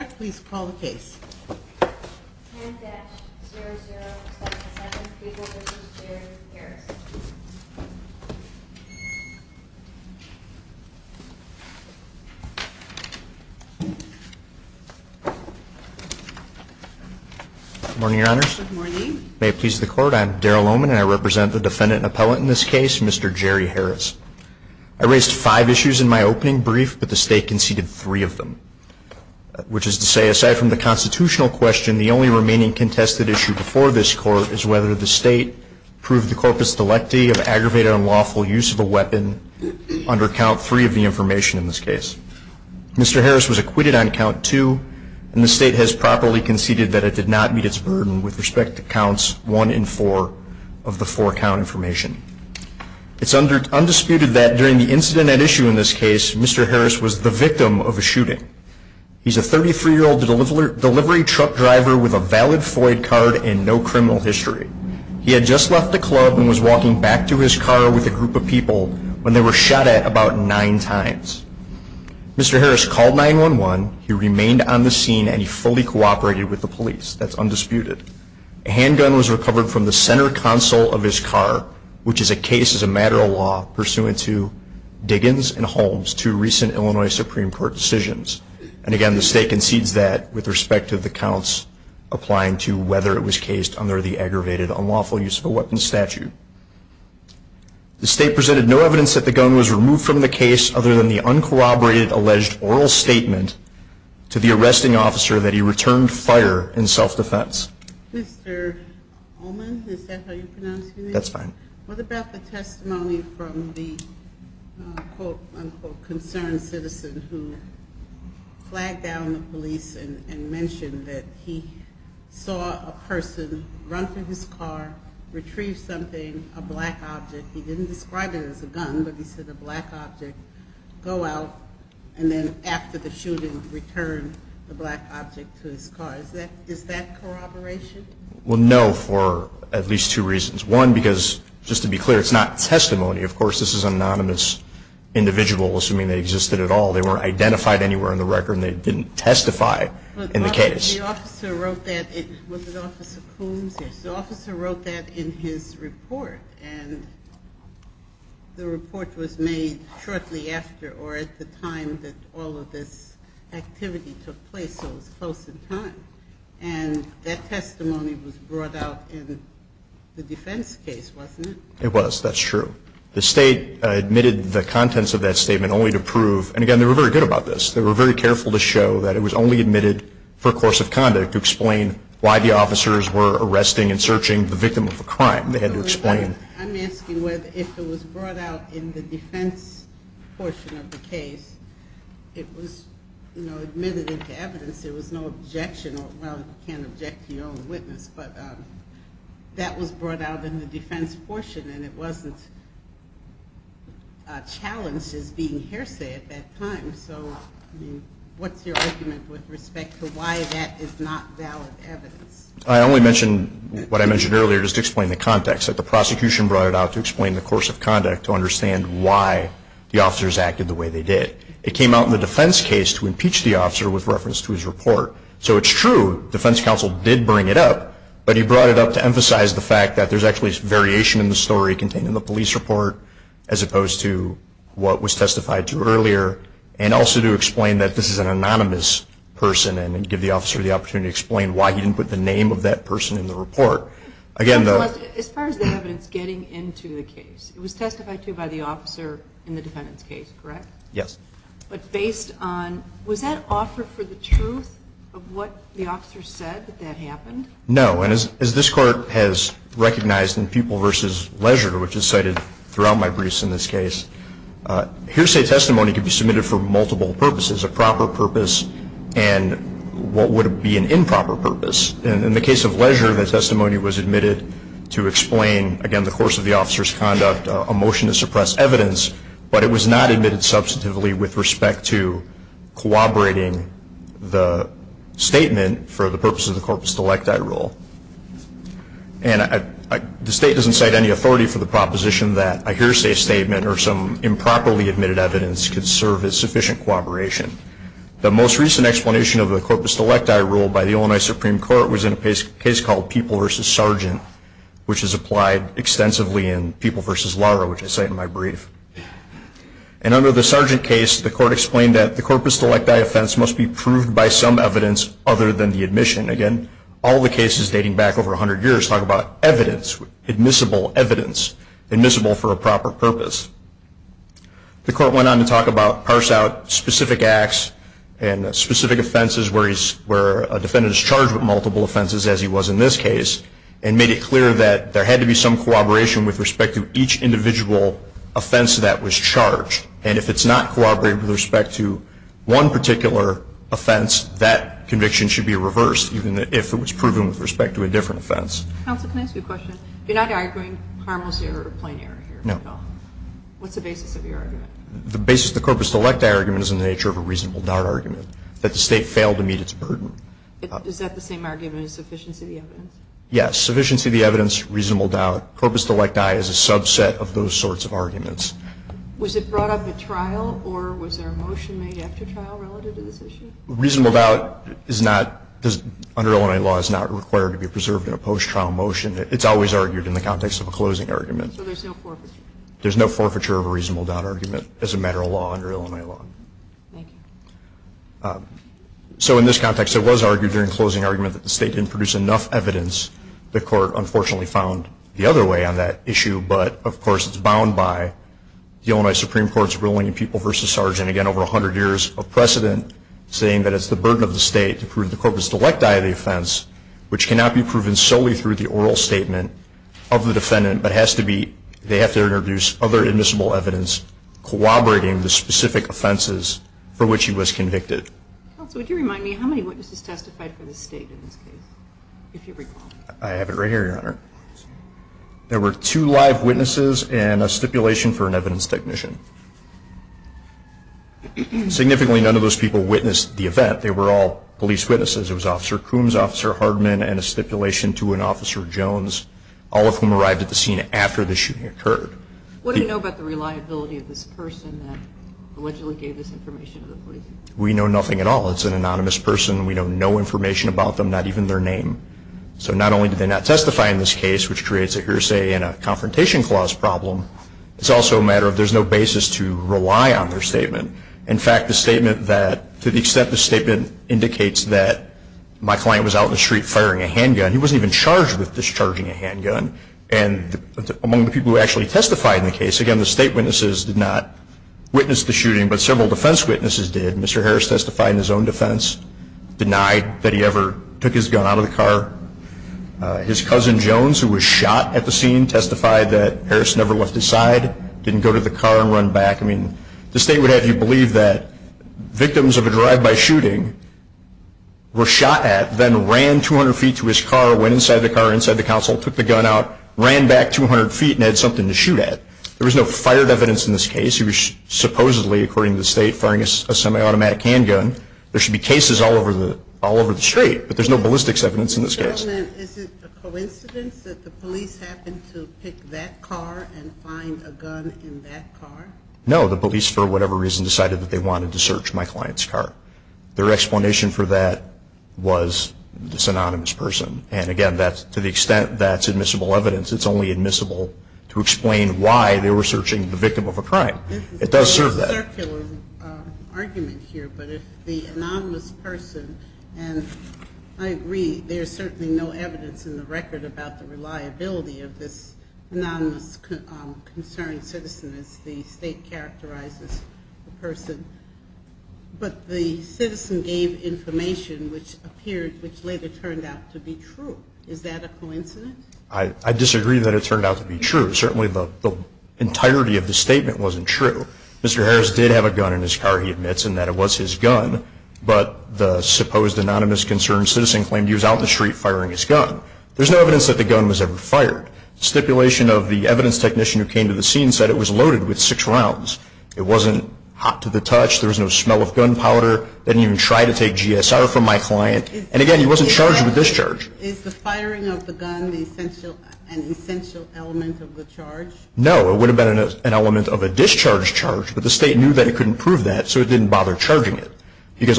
please call the case morning your honors may it please the court I'm Daryl Oman and I represent the defendant appellate in this case mr. Jerry Harris I raised five issues in my opening brief but the state conceded three of them which is to say aside from the constitutional question the only remaining contested issue before this court is whether the state proved the corpus delicti of aggravated unlawful use of a weapon under count three of the information in this case mr. Harris was acquitted on count two and the state has properly conceded that it did not meet its burden with respect to counts one and four of the four count information it's under undisputed that during the incident at this case mr. Harris was the victim of a shooting he's a 33 year old the delivery truck driver with a valid Floyd card and no criminal history he had just left the club and was walking back to his car with a group of people when they were shot at about nine times mr. Harris called 9-1-1 he remained on the scene and he fully cooperated with the police that's undisputed a handgun was recovered from the center console of his car which is a case as a matter of law pursuant to Diggins and Holmes to recent Illinois Supreme Court decisions and again the state concedes that with respect to the counts applying to whether it was cased under the aggravated unlawful use of a weapon statute the state presented no evidence that the gun was removed from the case other than the uncorroborated alleged oral statement to the arresting officer that he returned fire in self-defense is that corroboration well no for at least two reasons one because just to be clear it's not testimony of course this is an anonymous individual assuming they existed at all they weren't identified anywhere in the record they and that testimony was brought out in the defense case wasn't it it was that's true the state admitted the contents of that statement only to prove and again they were very good about this they were very careful to show that it was only admitted for a course of conduct to explain why the officers were arresting and searching the victim of a crime they had to explain can't object to your own witness but that was brought out in the defense portion and it wasn't challenged as being hearsay at that time so what's your argument with respect to why that is not valid evidence I only mentioned what I mentioned earlier just explain the context that the prosecution brought it out to explain the course of conduct to understand why the officers acted the way they did it came out in the defense case to impeach the officer with so it's true defense counsel did bring it up but he brought it up to emphasize the fact that there's actually variation in the story contained in the police report as opposed to what was testified to earlier and also to explain that this is an anonymous person and give the officer the opportunity to explain why he didn't put the name of that person in the report again as far as the evidence getting into the case it was testified to by the officer in the defendant's but based on was that offer for the truth of what the officer said that happened no and as this court has recognized in people versus leisure which is cited throughout my briefs in this case hearsay testimony could be submitted for multiple purposes a proper purpose and what would be an improper purpose and in the case of leisure the testimony was admitted to explain again the course of the officers conduct a motion to suppress evidence but it was not admitted substantively with respect to cooperating the statement for the purpose of the corpus delecta I rule and I the state doesn't cite any authority for the proposition that a hearsay statement or some improperly admitted evidence could serve as sufficient cooperation the most recent explanation of the corpus delecta I rule by the Illinois Supreme Court was in a case case called people versus sergeant which is applied extensively in people versus Laura which I say in my brief and under the sergeant case the court explained that the corpus delecta I offense must be proved by some evidence other than the admission again all the cases dating back over a hundred years talk about evidence admissible evidence admissible for a proper purpose the court went on to talk about parse out specific acts and specific offenses where he's where a defendant is charged with multiple offenses as he was in this case and made it clear that there had to be some cooperation with respect to each individual offense that was charged and if it's not corroborated with respect to one particular offense that conviction should be reversed even if it was proven with respect to a different offense you're not arguing what's the basis of your argument the basis the corpus delecta argument is in the nature of a reasonable doubt argument that the state failed to meet its burden is that the same argument is sufficiency evidence yes sufficiency the evidence reasonable doubt purpose to like die is a subset of those sorts of arguments was it brought up at trial or was there a motion made after trial relative to this issue reasonable doubt is not does under Illinois law is not required to be preserved in a post trial motion it's always argued in the context of a closing argument there's no forfeiture of a reasonable doubt argument as a matter of law under Illinois law so in this context it was argued during closing argument that the state didn't produce enough evidence the court unfortunately found the other way on that issue but of course it's bound by the only Supreme Court's ruling people versus sergeant again over a hundred years of precedent saying that it's the burden of the state to prove the corpus delecta of the offense which cannot be proven solely through the oral statement of the defendant but has to be they have to introduce other admissible evidence corroborating the specific offenses for which he was there were two live witnesses and a stipulation for an evidence technician significantly none of those people witnessed the event they were all police witnesses it was officer Coombs officer Hardman and a stipulation to an officer Jones all of whom arrived at the scene after the shooting occurred we know nothing at all it's an anonymous person we don't know information about them not even their name so not only did they not testify in this case which creates a hearsay and a confrontation clause problem it's also a matter of there's no basis to rely on their statement in fact the statement that to the extent the statement indicates that my client was out the street firing a handgun he wasn't even charged with discharging a handgun and among the people who actually testified in the case again the state witnesses did not witness the shooting but several defense witnesses did Mr. Harris testified in his own out of the car his cousin Jones who was shot at the scene testified that Harris never left his side didn't go to the car and run back I mean the state would have you believe that victims of a drive-by shooting were shot at then ran 200 feet to his car went inside the car inside the council took the gun out ran back 200 feet and had something to shoot at there was no fire evidence in this case he was supposedly according to the state firing a semi-automatic handgun there should be straight but there's no ballistics evidence in this case no the police for whatever reason decided that they wanted to search my client's car their explanation for that was this anonymous person and again that's to the extent that's admissible evidence it's only admissible to explain why they were I disagree that it turned out to be true certainly the entirety of the statement wasn't true mr. Harris did have a gun in his car he admits and that was his gun but the supposed anonymous concerned citizen claimed he was out the street firing his gun there's no evidence that the gun was ever fired stipulation of the evidence technician who came to the scene said it was loaded with six rounds it wasn't hot to the touch there was no smell of gunpowder didn't even try to take GSR from my client and again he wasn't charged with discharge no it would have been an element of a discharge charge but the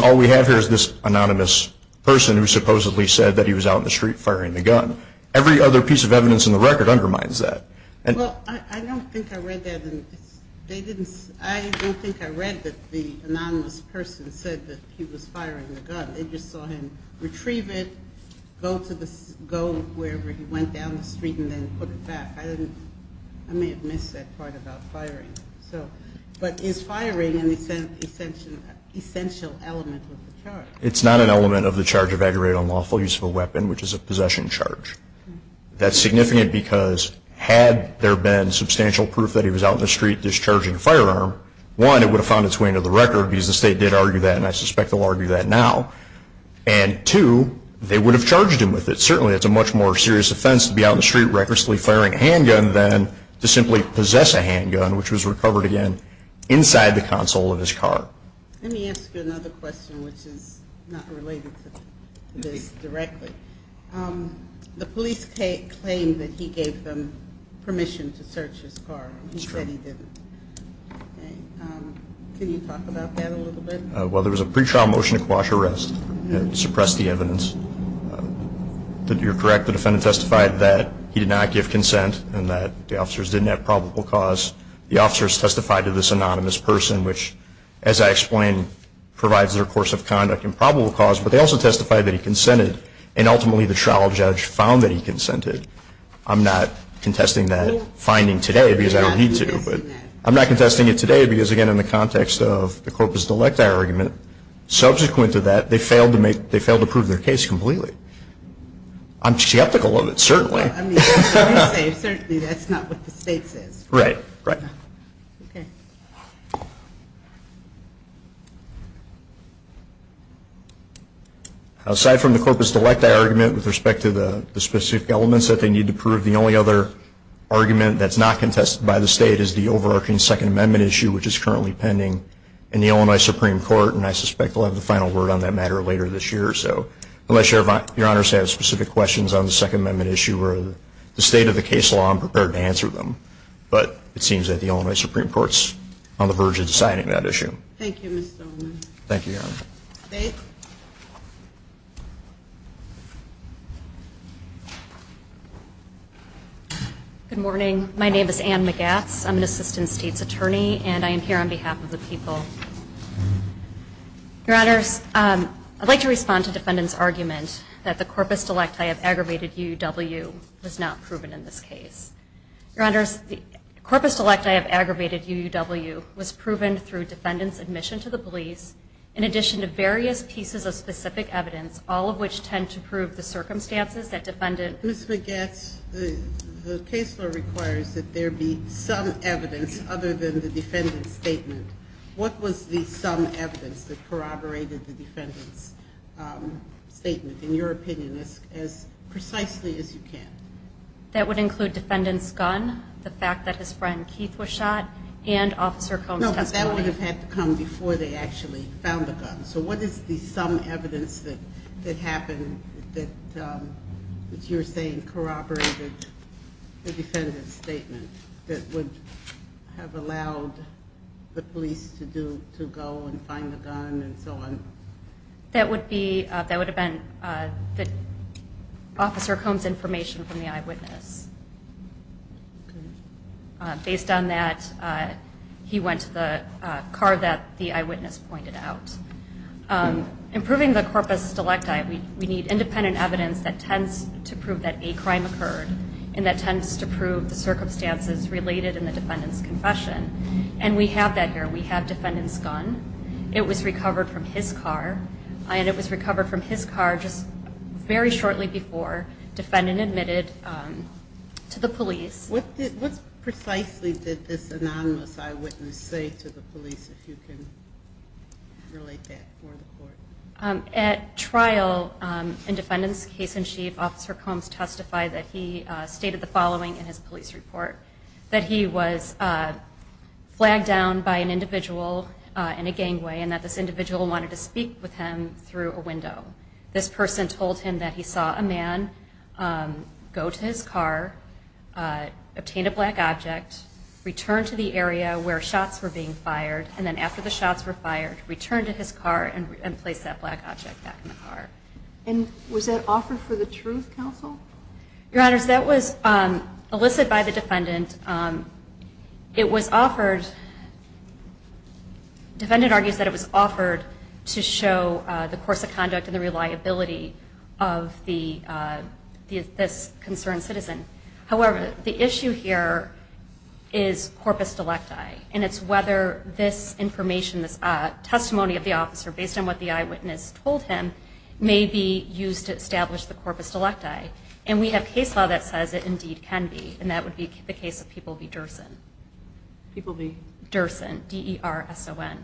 all we have here is this anonymous person who supposedly said that he was out in the street firing the gun every other piece of evidence in the record it's not an element of the charge of a great unlawful use of a weapon which is a possession charge that's significant because had there been substantial proof that he was out in the street discharging firearm one it would have found its way into the record because the state did argue that and I suspect they'll argue that now and to they would have charged him with it certainly it's a much more serious offense to be out in the street recklessly firing handgun then to simply possess a handgun which was recovered again inside the console of his car the police take claim that he gave them permission to search his car well there was a pre-trial motion to quash arrest suppress the evidence that you're correct the defendant testified that he did not give consent and that the officers didn't have probable cause the officers testified to this anonymous person which as I explained provides their course of conduct and probable cause but they also testified that he consented and ultimately the trial judge found that he consented I'm not contesting that finding today because I don't need to but I'm not contesting it today because again in the context of the corpus delecta argument subsequent to that they failed to make they failed to prove their case completely I'm skeptical of it certainly right right aside from the corpus delecta argument with respect to the specific elements that they need to prove the only other argument that's not contested by the state is the overarching Second Amendment issue which is currently pending in the Illinois Supreme Court and I suspect we'll have the final word on that matter later this year so unless your your honors have specific questions on the Second Amendment issue or the state of the case law I'm it seems that the Illinois Supreme Court's on the verge of deciding that issue thank you thank you good morning my name is Anne McGatts I'm an assistant state's attorney and I am here on behalf of the people your honors I'd like to respond to defendants argument that the corpus delecta have aggravated UW was not proven in this your honors the corpus delecta have aggravated UW was proven through defendants admission to the police in addition to various pieces of specific evidence all of which tend to prove the circumstances that defendant who's McGatts the case law requires that there be some evidence other than the defendant's statement what was the some evidence that corroborated the defendant's statement in your opinion is as precisely as you can that would include defendants gun the fact that his friend Keith was shot and officer comes that would have had to come before they actually found the gun so what is the some evidence that that happened that you're saying corroborated the defendant's statement that would have allowed the police to do to go and find the gun and so on that would be that would have been that officer comes information from the eyewitness based on that he went to the car that the eyewitness pointed out improving the corpus delecta we need independent evidence that tends to prove that a crime occurred and that tends to prove the circumstances related in the defendant's confession and we have that here we have defendants gun it was recovered from his car and it was admitted to the police what precisely did this anonymous eyewitness say to the police at trial in defendants case-in-chief officer comes testify that he stated the following in his police report that he was flagged down by an individual in a gang way and that this individual wanted to speak with him through a window this person told him that he saw a man go to his car obtain a black object return to the area where shots were being fired and then after the shots were fired return to his car and replace that black object and was it offered for the truth counsel that was elicited by the defendant it was offered to show the course of conduct of the reliability of the concern citizen however the issue here is whether this information is testimony of the officer based on what the eyewitness told him maybe used to establish the corpus delecta and we have case law that says it can be and that people be Derson D.E.R.S.O.N.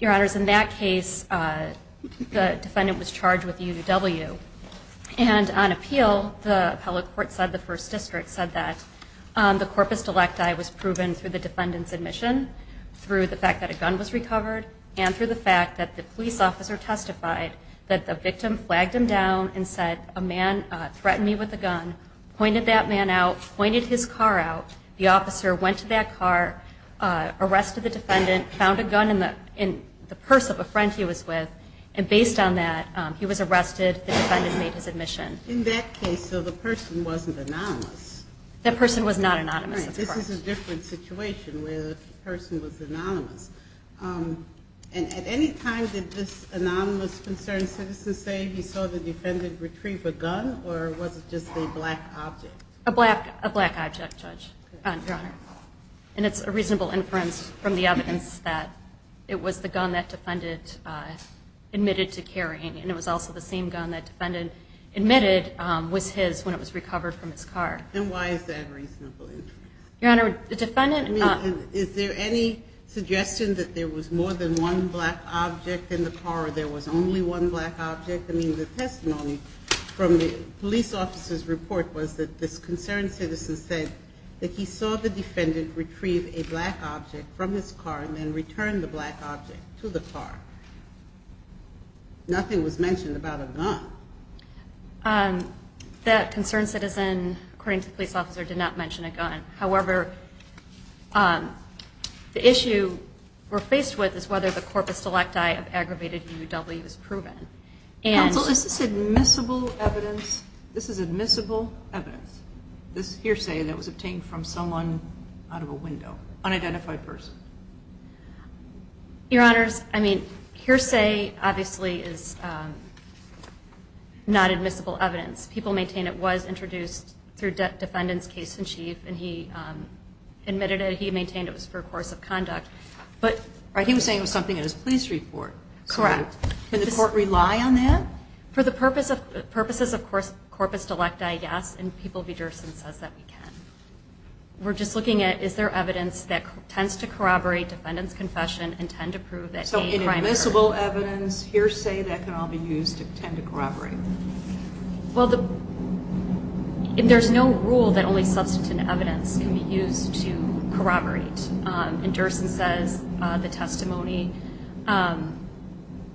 your honors in that case the defendant was charged with U.W. and on appeal the appellate court said the first district said that the corpus delecta was proven through the defendants admission through the fact that a gun was recovered and through the fact that the police officer testified that the victim flagged him down and said a man threatened me with a gun pointed that man out pointed his car out the officer went to that car arrested the defendant found a gun in the in the purse of a friend he was with and based on that he was arrested the defendant made his admission in that case so the person wasn't anonymous that person was not anonymous this is a different situation where the person was anonymous and at any time did this anonymous concern citizen say he saw the defendant retrieve a gun or was it just a black object a black a black object judge and it's a reasonable inference from the evidence that it was the gun that defendant admitted to carrying and it was also the same gun that defendant admitted was his when it was recovered from his car and why is that reasonable your honor the defendant is there any suggestion that there was more than one black object in the car there was only one black object I mean the testimony from the police officer's report was that this concerned citizen said that he saw the defendant retrieve a black object from his car and then return the black object to the car nothing was mentioned about a gun that concerned citizen according to police officer did not mention a gun however the issue we're faced with is whether the corpus select I have aggravated UW is proven and this is admissible evidence this is admissible evidence this hearsay that was obtained from someone out of a window unidentified person your honors I mean hearsay obviously is not admissible evidence people maintain it was introduced through debt defendants case-in-chief and he admitted it he maintained it was for a course of history for correct can the court rely on that for the purpose of purposes of course corpus delecta I guess and people Peterson says that we can we're just looking at is there evidence that tends to corroborate defendants confession and tend to prove that so invisible evidence hearsay that can all be used to tend to corroborate well the and there's no rule that only used to corroborate and Durson says the testimony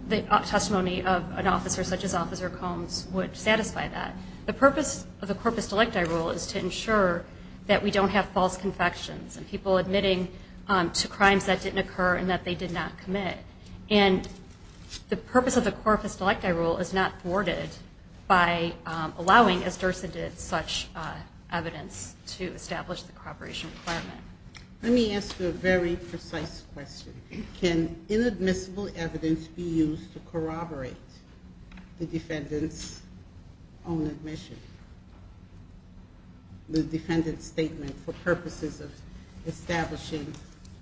the testimony of an officer such as officer Combs would satisfy that the purpose of the corpus delecta rule is to ensure that we don't have false confections and people admitting to crimes that didn't occur and that they did not commit and the purpose of the corpus delecta rule is not thwarted by allowing as Durson did such evidence to establish the corporation let me ask you a very precise question can inadmissible evidence be used to corroborate the defendants own admission the defendant statement for purposes of establishing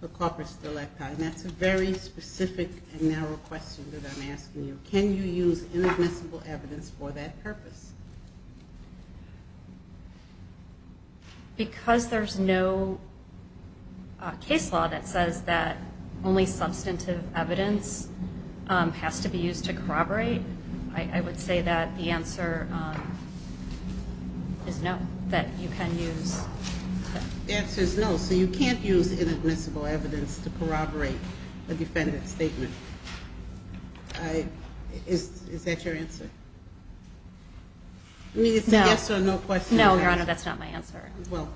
the corpus delecta and that's a very specific and narrow question that I'm asking you can you use evidence for that purpose because there's no case law that says that only substantive evidence has to be used to corroborate I would say that the answer is no that you can use answers no so you can't use inadmissible evidence to answer yes or no question no your honor that's not my answer well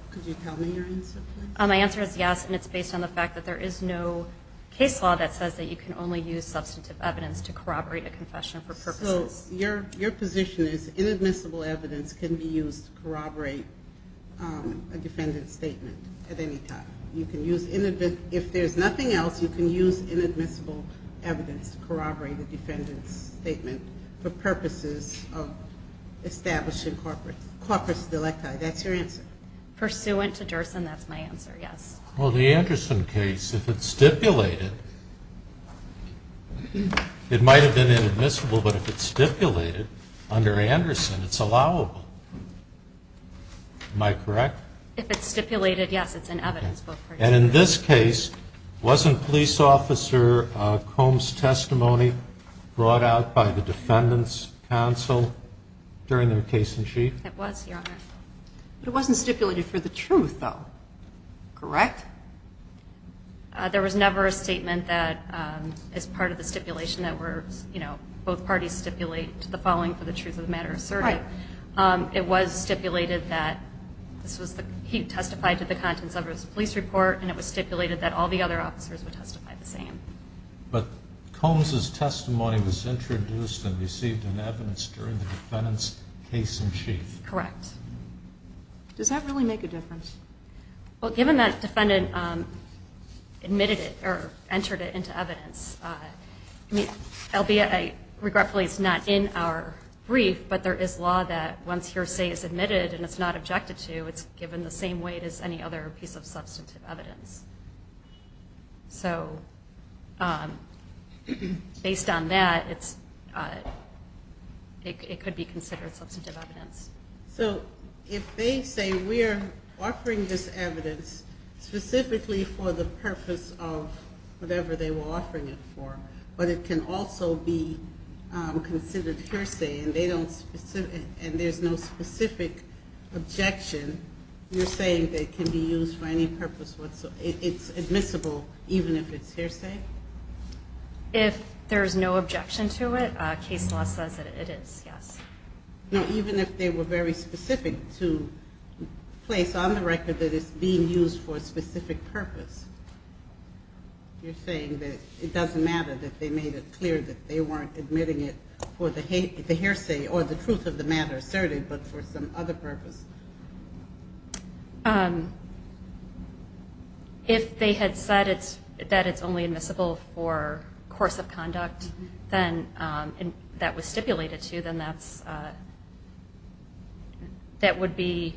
my answer is yes and it's based on the fact that there is no case law that says that you can only use substantive evidence to corroborate a confession for purpose your your position is inadmissible evidence can be used to corroborate a defendant statement at any time you can use in advance if there's nothing else you can use inadmissible evidence to corroborate the defendant's statement for purposes of establishing corporate corpus delecta that's your answer pursuant to Durson that's my answer yes well the Anderson case if it's stipulated it might have been inadmissible but if it's stipulated under Anderson it's allowable am I correct if it's stipulated yes it's an evidence and in this case wasn't police officer Combs testimony brought out by the defendants counsel during their case-in-chief it wasn't stipulated for the truth though correct there was never a statement that as part of the stipulation that were you know both parties stipulate to the following for the truth of the matter sir right it was stipulated that this was the he testified to the contents of his police report and it was stipulated that all the other officers would testify the same but Combs his testimony was introduced and received in evidence during the defendant's case-in-chief correct does that really make a difference well given that defendant admitted it or entered it into evidence I mean I'll be a regretfully it's not in our brief but there is law that once hearsay is admitted and it's not the same weight as any other piece of evidence so based on that it's it could be considered substantive evidence so if they say we're offering this evidence specifically for the purpose of whatever they were offering it for but it can also be considered hearsay and they don't and there's no specific objection you're saying that can be used for any purpose whatsoever it's admissible even if it's hearsay if there's no objection to it case law says that it is yes no even if they were very specific to place on the record that is being used for a specific purpose you're saying that it doesn't matter that they made it clear that they weren't admitting it for the hate the hearsay or the truth of the matter certainly but for some other purpose if they had said it's that it's only admissible for course of conduct then and that was stipulated to them that's that would be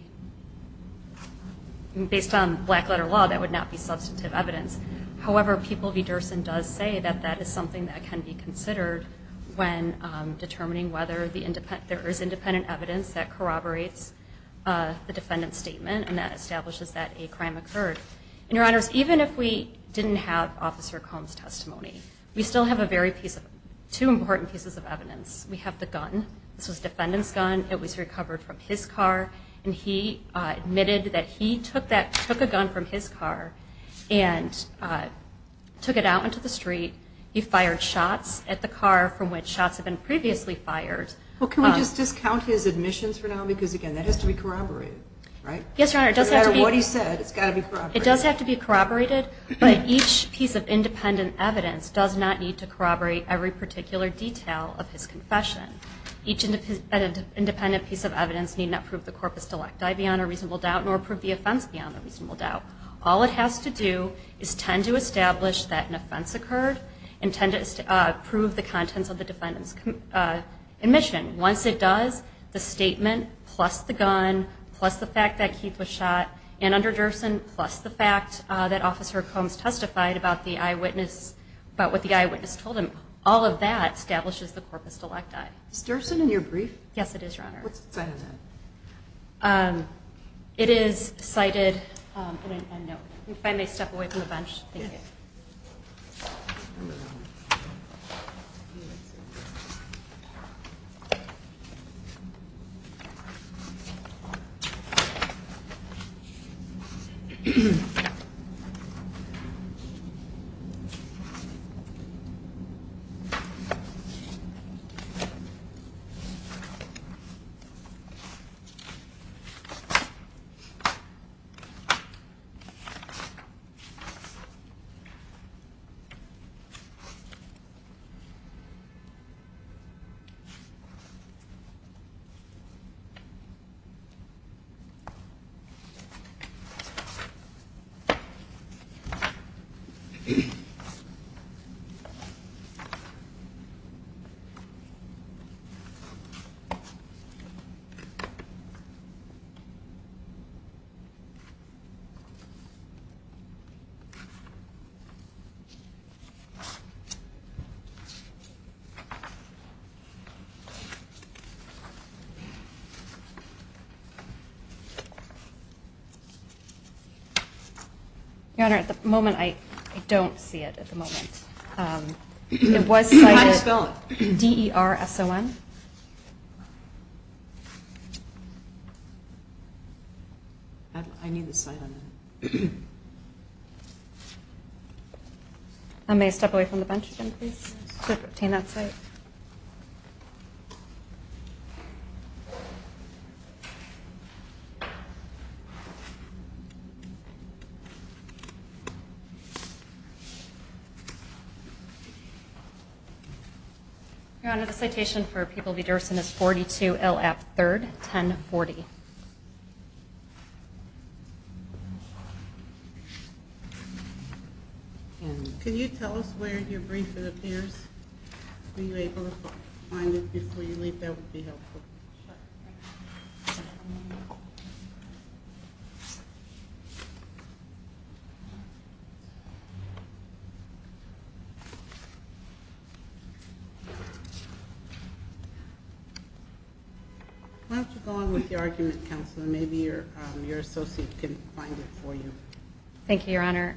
based on black letter law that would not be substantive evidence however people be Durson does say that that is something that can be considered when determining whether the independent there is independent evidence that corroborates the defendant's statement and that establishes that a crime occurred even if we didn't have officer comes testimony we still have a very piece of two important pieces of evidence we have the gun defendants gun it was recovered from his car and he admitted that he took that took a gun from his car and I took it out into the street you fired shots at the car from which shots have been previously fired what can we just discount his admissions for now because again that has to be corroborated right yes right doesn't matter what he said it does have to be corroborated but each piece of independent evidence does not need to corroborate every particular detail of his confession each independent piece of evidence need not prove the corpus delecti beyond a reasonable doubt nor prove the offense beyond a reasonable doubt all it has to do is tend to prove the contents of the defendant's admission once it does the statement plus the gun plus the fact that Keith was shot and under Durson plus the fact that officer comes testified about the eyewitness but with the eyewitness told him all of that establishes the corpus delecti stirs in your brief yes it is it is cited finally step away from the bench you your honor at the moment I don't see it at the moment it was Boom rs on I need this item I may step away from the bench at 3rd 10 40. Can you tell us where your briefing appears? Are you able to find it before you leave? That would be helpful. Why don't you go on with your argument counselor? Maybe your associate can find it for you. Thank you your honor.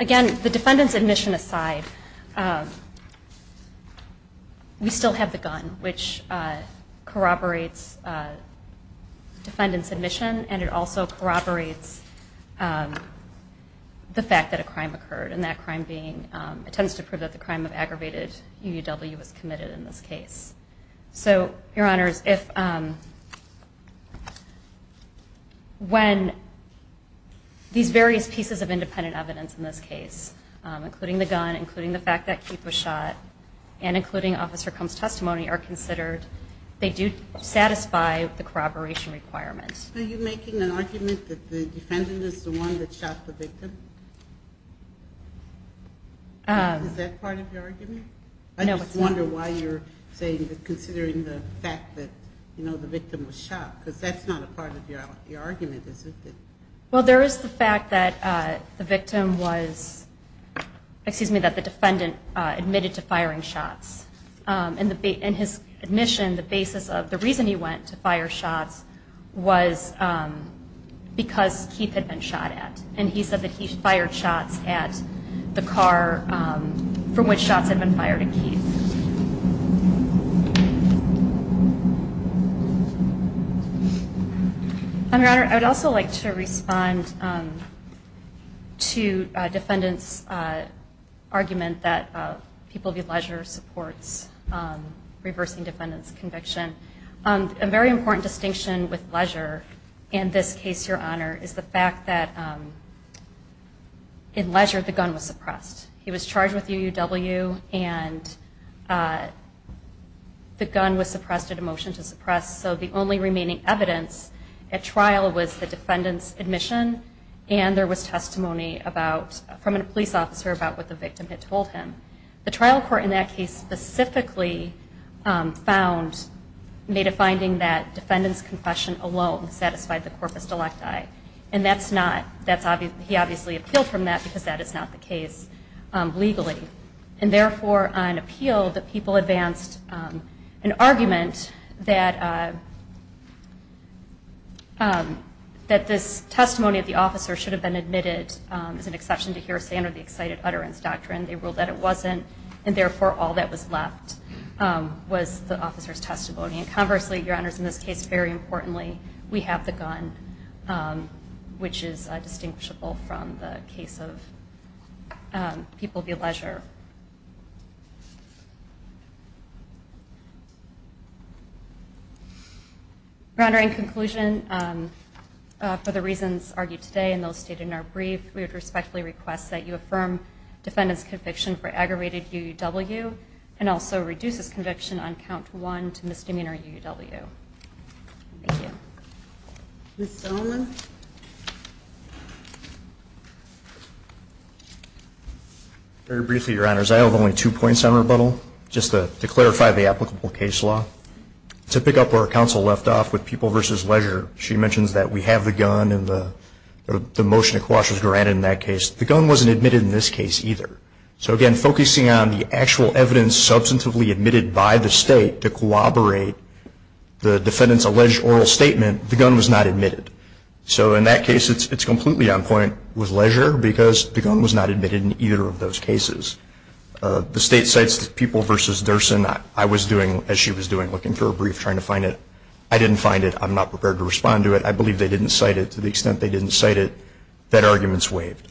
Again the defendants admission aside we still have the gun which corroborates defendants admission and it also corroborates the fact that a crime occurred and that crime being it tends to prove that the crime of aggravated UUW was committed in this case. So your honors if when these various pieces of independent evidence in this case including the gun including the fact that keep a shot and including officer comes testimony are considered they do satisfy the corroboration requirements. Are you making an argument that the defendant is the one that shot the victim? Is that part of your argument? I just wonder why you're saying that considering the fact that you know the victim was shot because that's not a part of your argument is it? Well there is the fact that the victim was excuse me that the defendant admitted to firing shots and his admission the basis of the reason he went to fire shots was because Keith had been shot at and he said that he fired shots at the car from which shots had been fired at Keith. I would also like to respond to defendants argument that people view leisure supports reversing defendants conviction. A very important distinction with leisure in this case your honor is the fact that in leisure the gun was suppressed. He was charged with UUW and the gun was suppressed at a motion to suppress so the only remaining evidence at trial was the defendants admission and there was testimony from a police officer about what the victim had told him. The trial court in that case specifically found made a finding that defendants confession alone satisfied the corpus delecti and that's not he obviously appealed from that because that is not the case legally and therefore on appeal the people advanced an argument that this testimony of the officer should have been admitted as an exception to hear standard excited utterance doctrine. They ruled that it wasn't and therefore all that was left was the officers testimony and conversely your honors in this case very importantly we have the gun which is distinguishable from the case of people view leisure. Your honor in conclusion for the reasons argued today and those stated in our brief we would respectfully request that you affirm defendants conviction for aggravated UUW and also reduces conviction on count one to misdemeanor UUW. Thank you. Mr. Solomon. Very briefly your honors I have only two points on rebuttal just to clarify the applicable case law. To pick up where counsel left off with people versus leisure she mentions that we have the gun and the motion to quash was granted in that case. The gun wasn't admitted in this case either. So again focusing on the actual evidence substantively admitted by the state to corroborate the defendants alleged oral statement the gun was not admitted. So in that case it's completely on point with leisure because the gun was not admitted in either of those cases. The state cites the people versus Durson. I was doing as she was doing looking for a brief trying to find it. I didn't find it. I'm not prepared to respond to it. I believe they didn't cite it to the extent they didn't cite it. That argument is waived.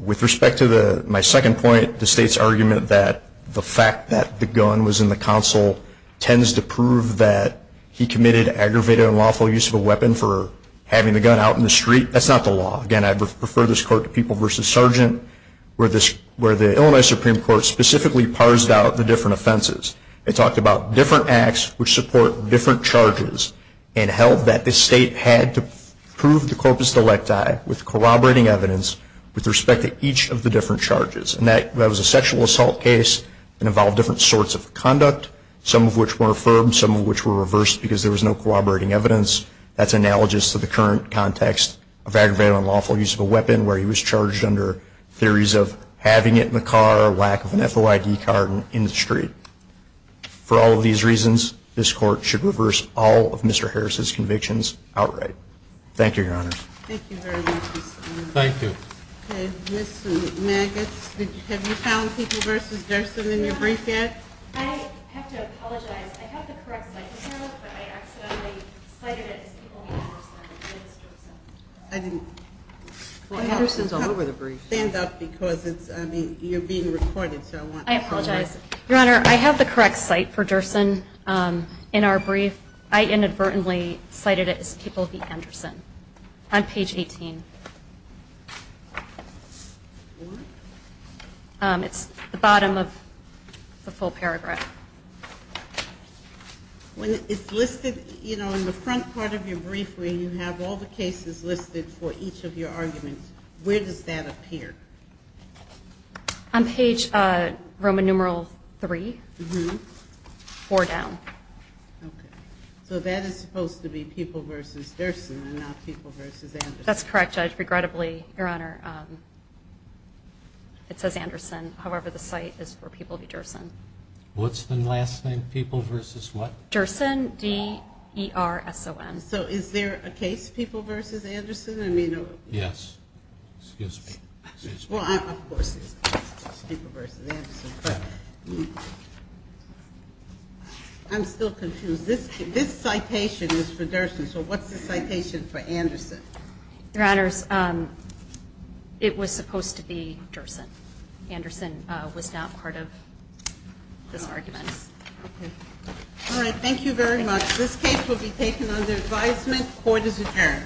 With respect to my second point the state's argument that the fact that the gun was in the counsel tends to prove that he committed aggravated and lawful use of a weapon for having the gun out in the street. That's not the law. Again I refer this court to people versus sergeant where the Illinois Supreme Court specifically parsed out the different offenses. It talked about different acts which support different charges and held that the state had to prove the corpus delicti with corroborating evidence with respect to each of the different charges. And that was a sexual assault case that involved different sorts of conduct, some of which were affirmed, some of which were reversed because there was no corroborating evidence. That's analogous to the current context of aggravated and lawful use of a weapon where he was charged under theories of having it in the car or lack of an FOID card in the street. For all of these reasons, this court should reverse all of Mr. Harris' convictions outright. Thank you, Your Honors. Thank you very much, Mr. Miller. Thank you. Ms. Maggots, have you found people versus Gerson in your brief yet? I have to apologize. I have the correct citation, but I accidentally cited it as people versus Gerson. I didn't. Well, Harrison's all over the brief. Stand up because you're being recorded. I apologize. Your Honor, I have the correct cite for Gerson in our brief. I inadvertently cited it as people v. Anderson on page 18. It's the bottom of the full paragraph. When it's listed in the front part of your brief where you have all the cases listed for each of your arguments, where does that appear? On page Roman numeral 3, four down. Okay. So that is supposed to be people versus Gerson and not people versus Anderson. That's correct, Judge. Regrettably, Your Honor, it says Anderson. However, the cite is for people v. Gerson. What's the last name? People versus what? Gerson, D-E-R-S-O-N. So is there a case people versus Anderson? Yes. Excuse me. Excuse me. Well, of course it's people versus Anderson. I'm still confused. This citation is for Gerson, so what's the citation for Anderson? Your Honors, it was supposed to be Gerson. Anderson was not part of this argument. Okay. All right. Thank you very much. This case will be taken under advisement. Court is adjourned.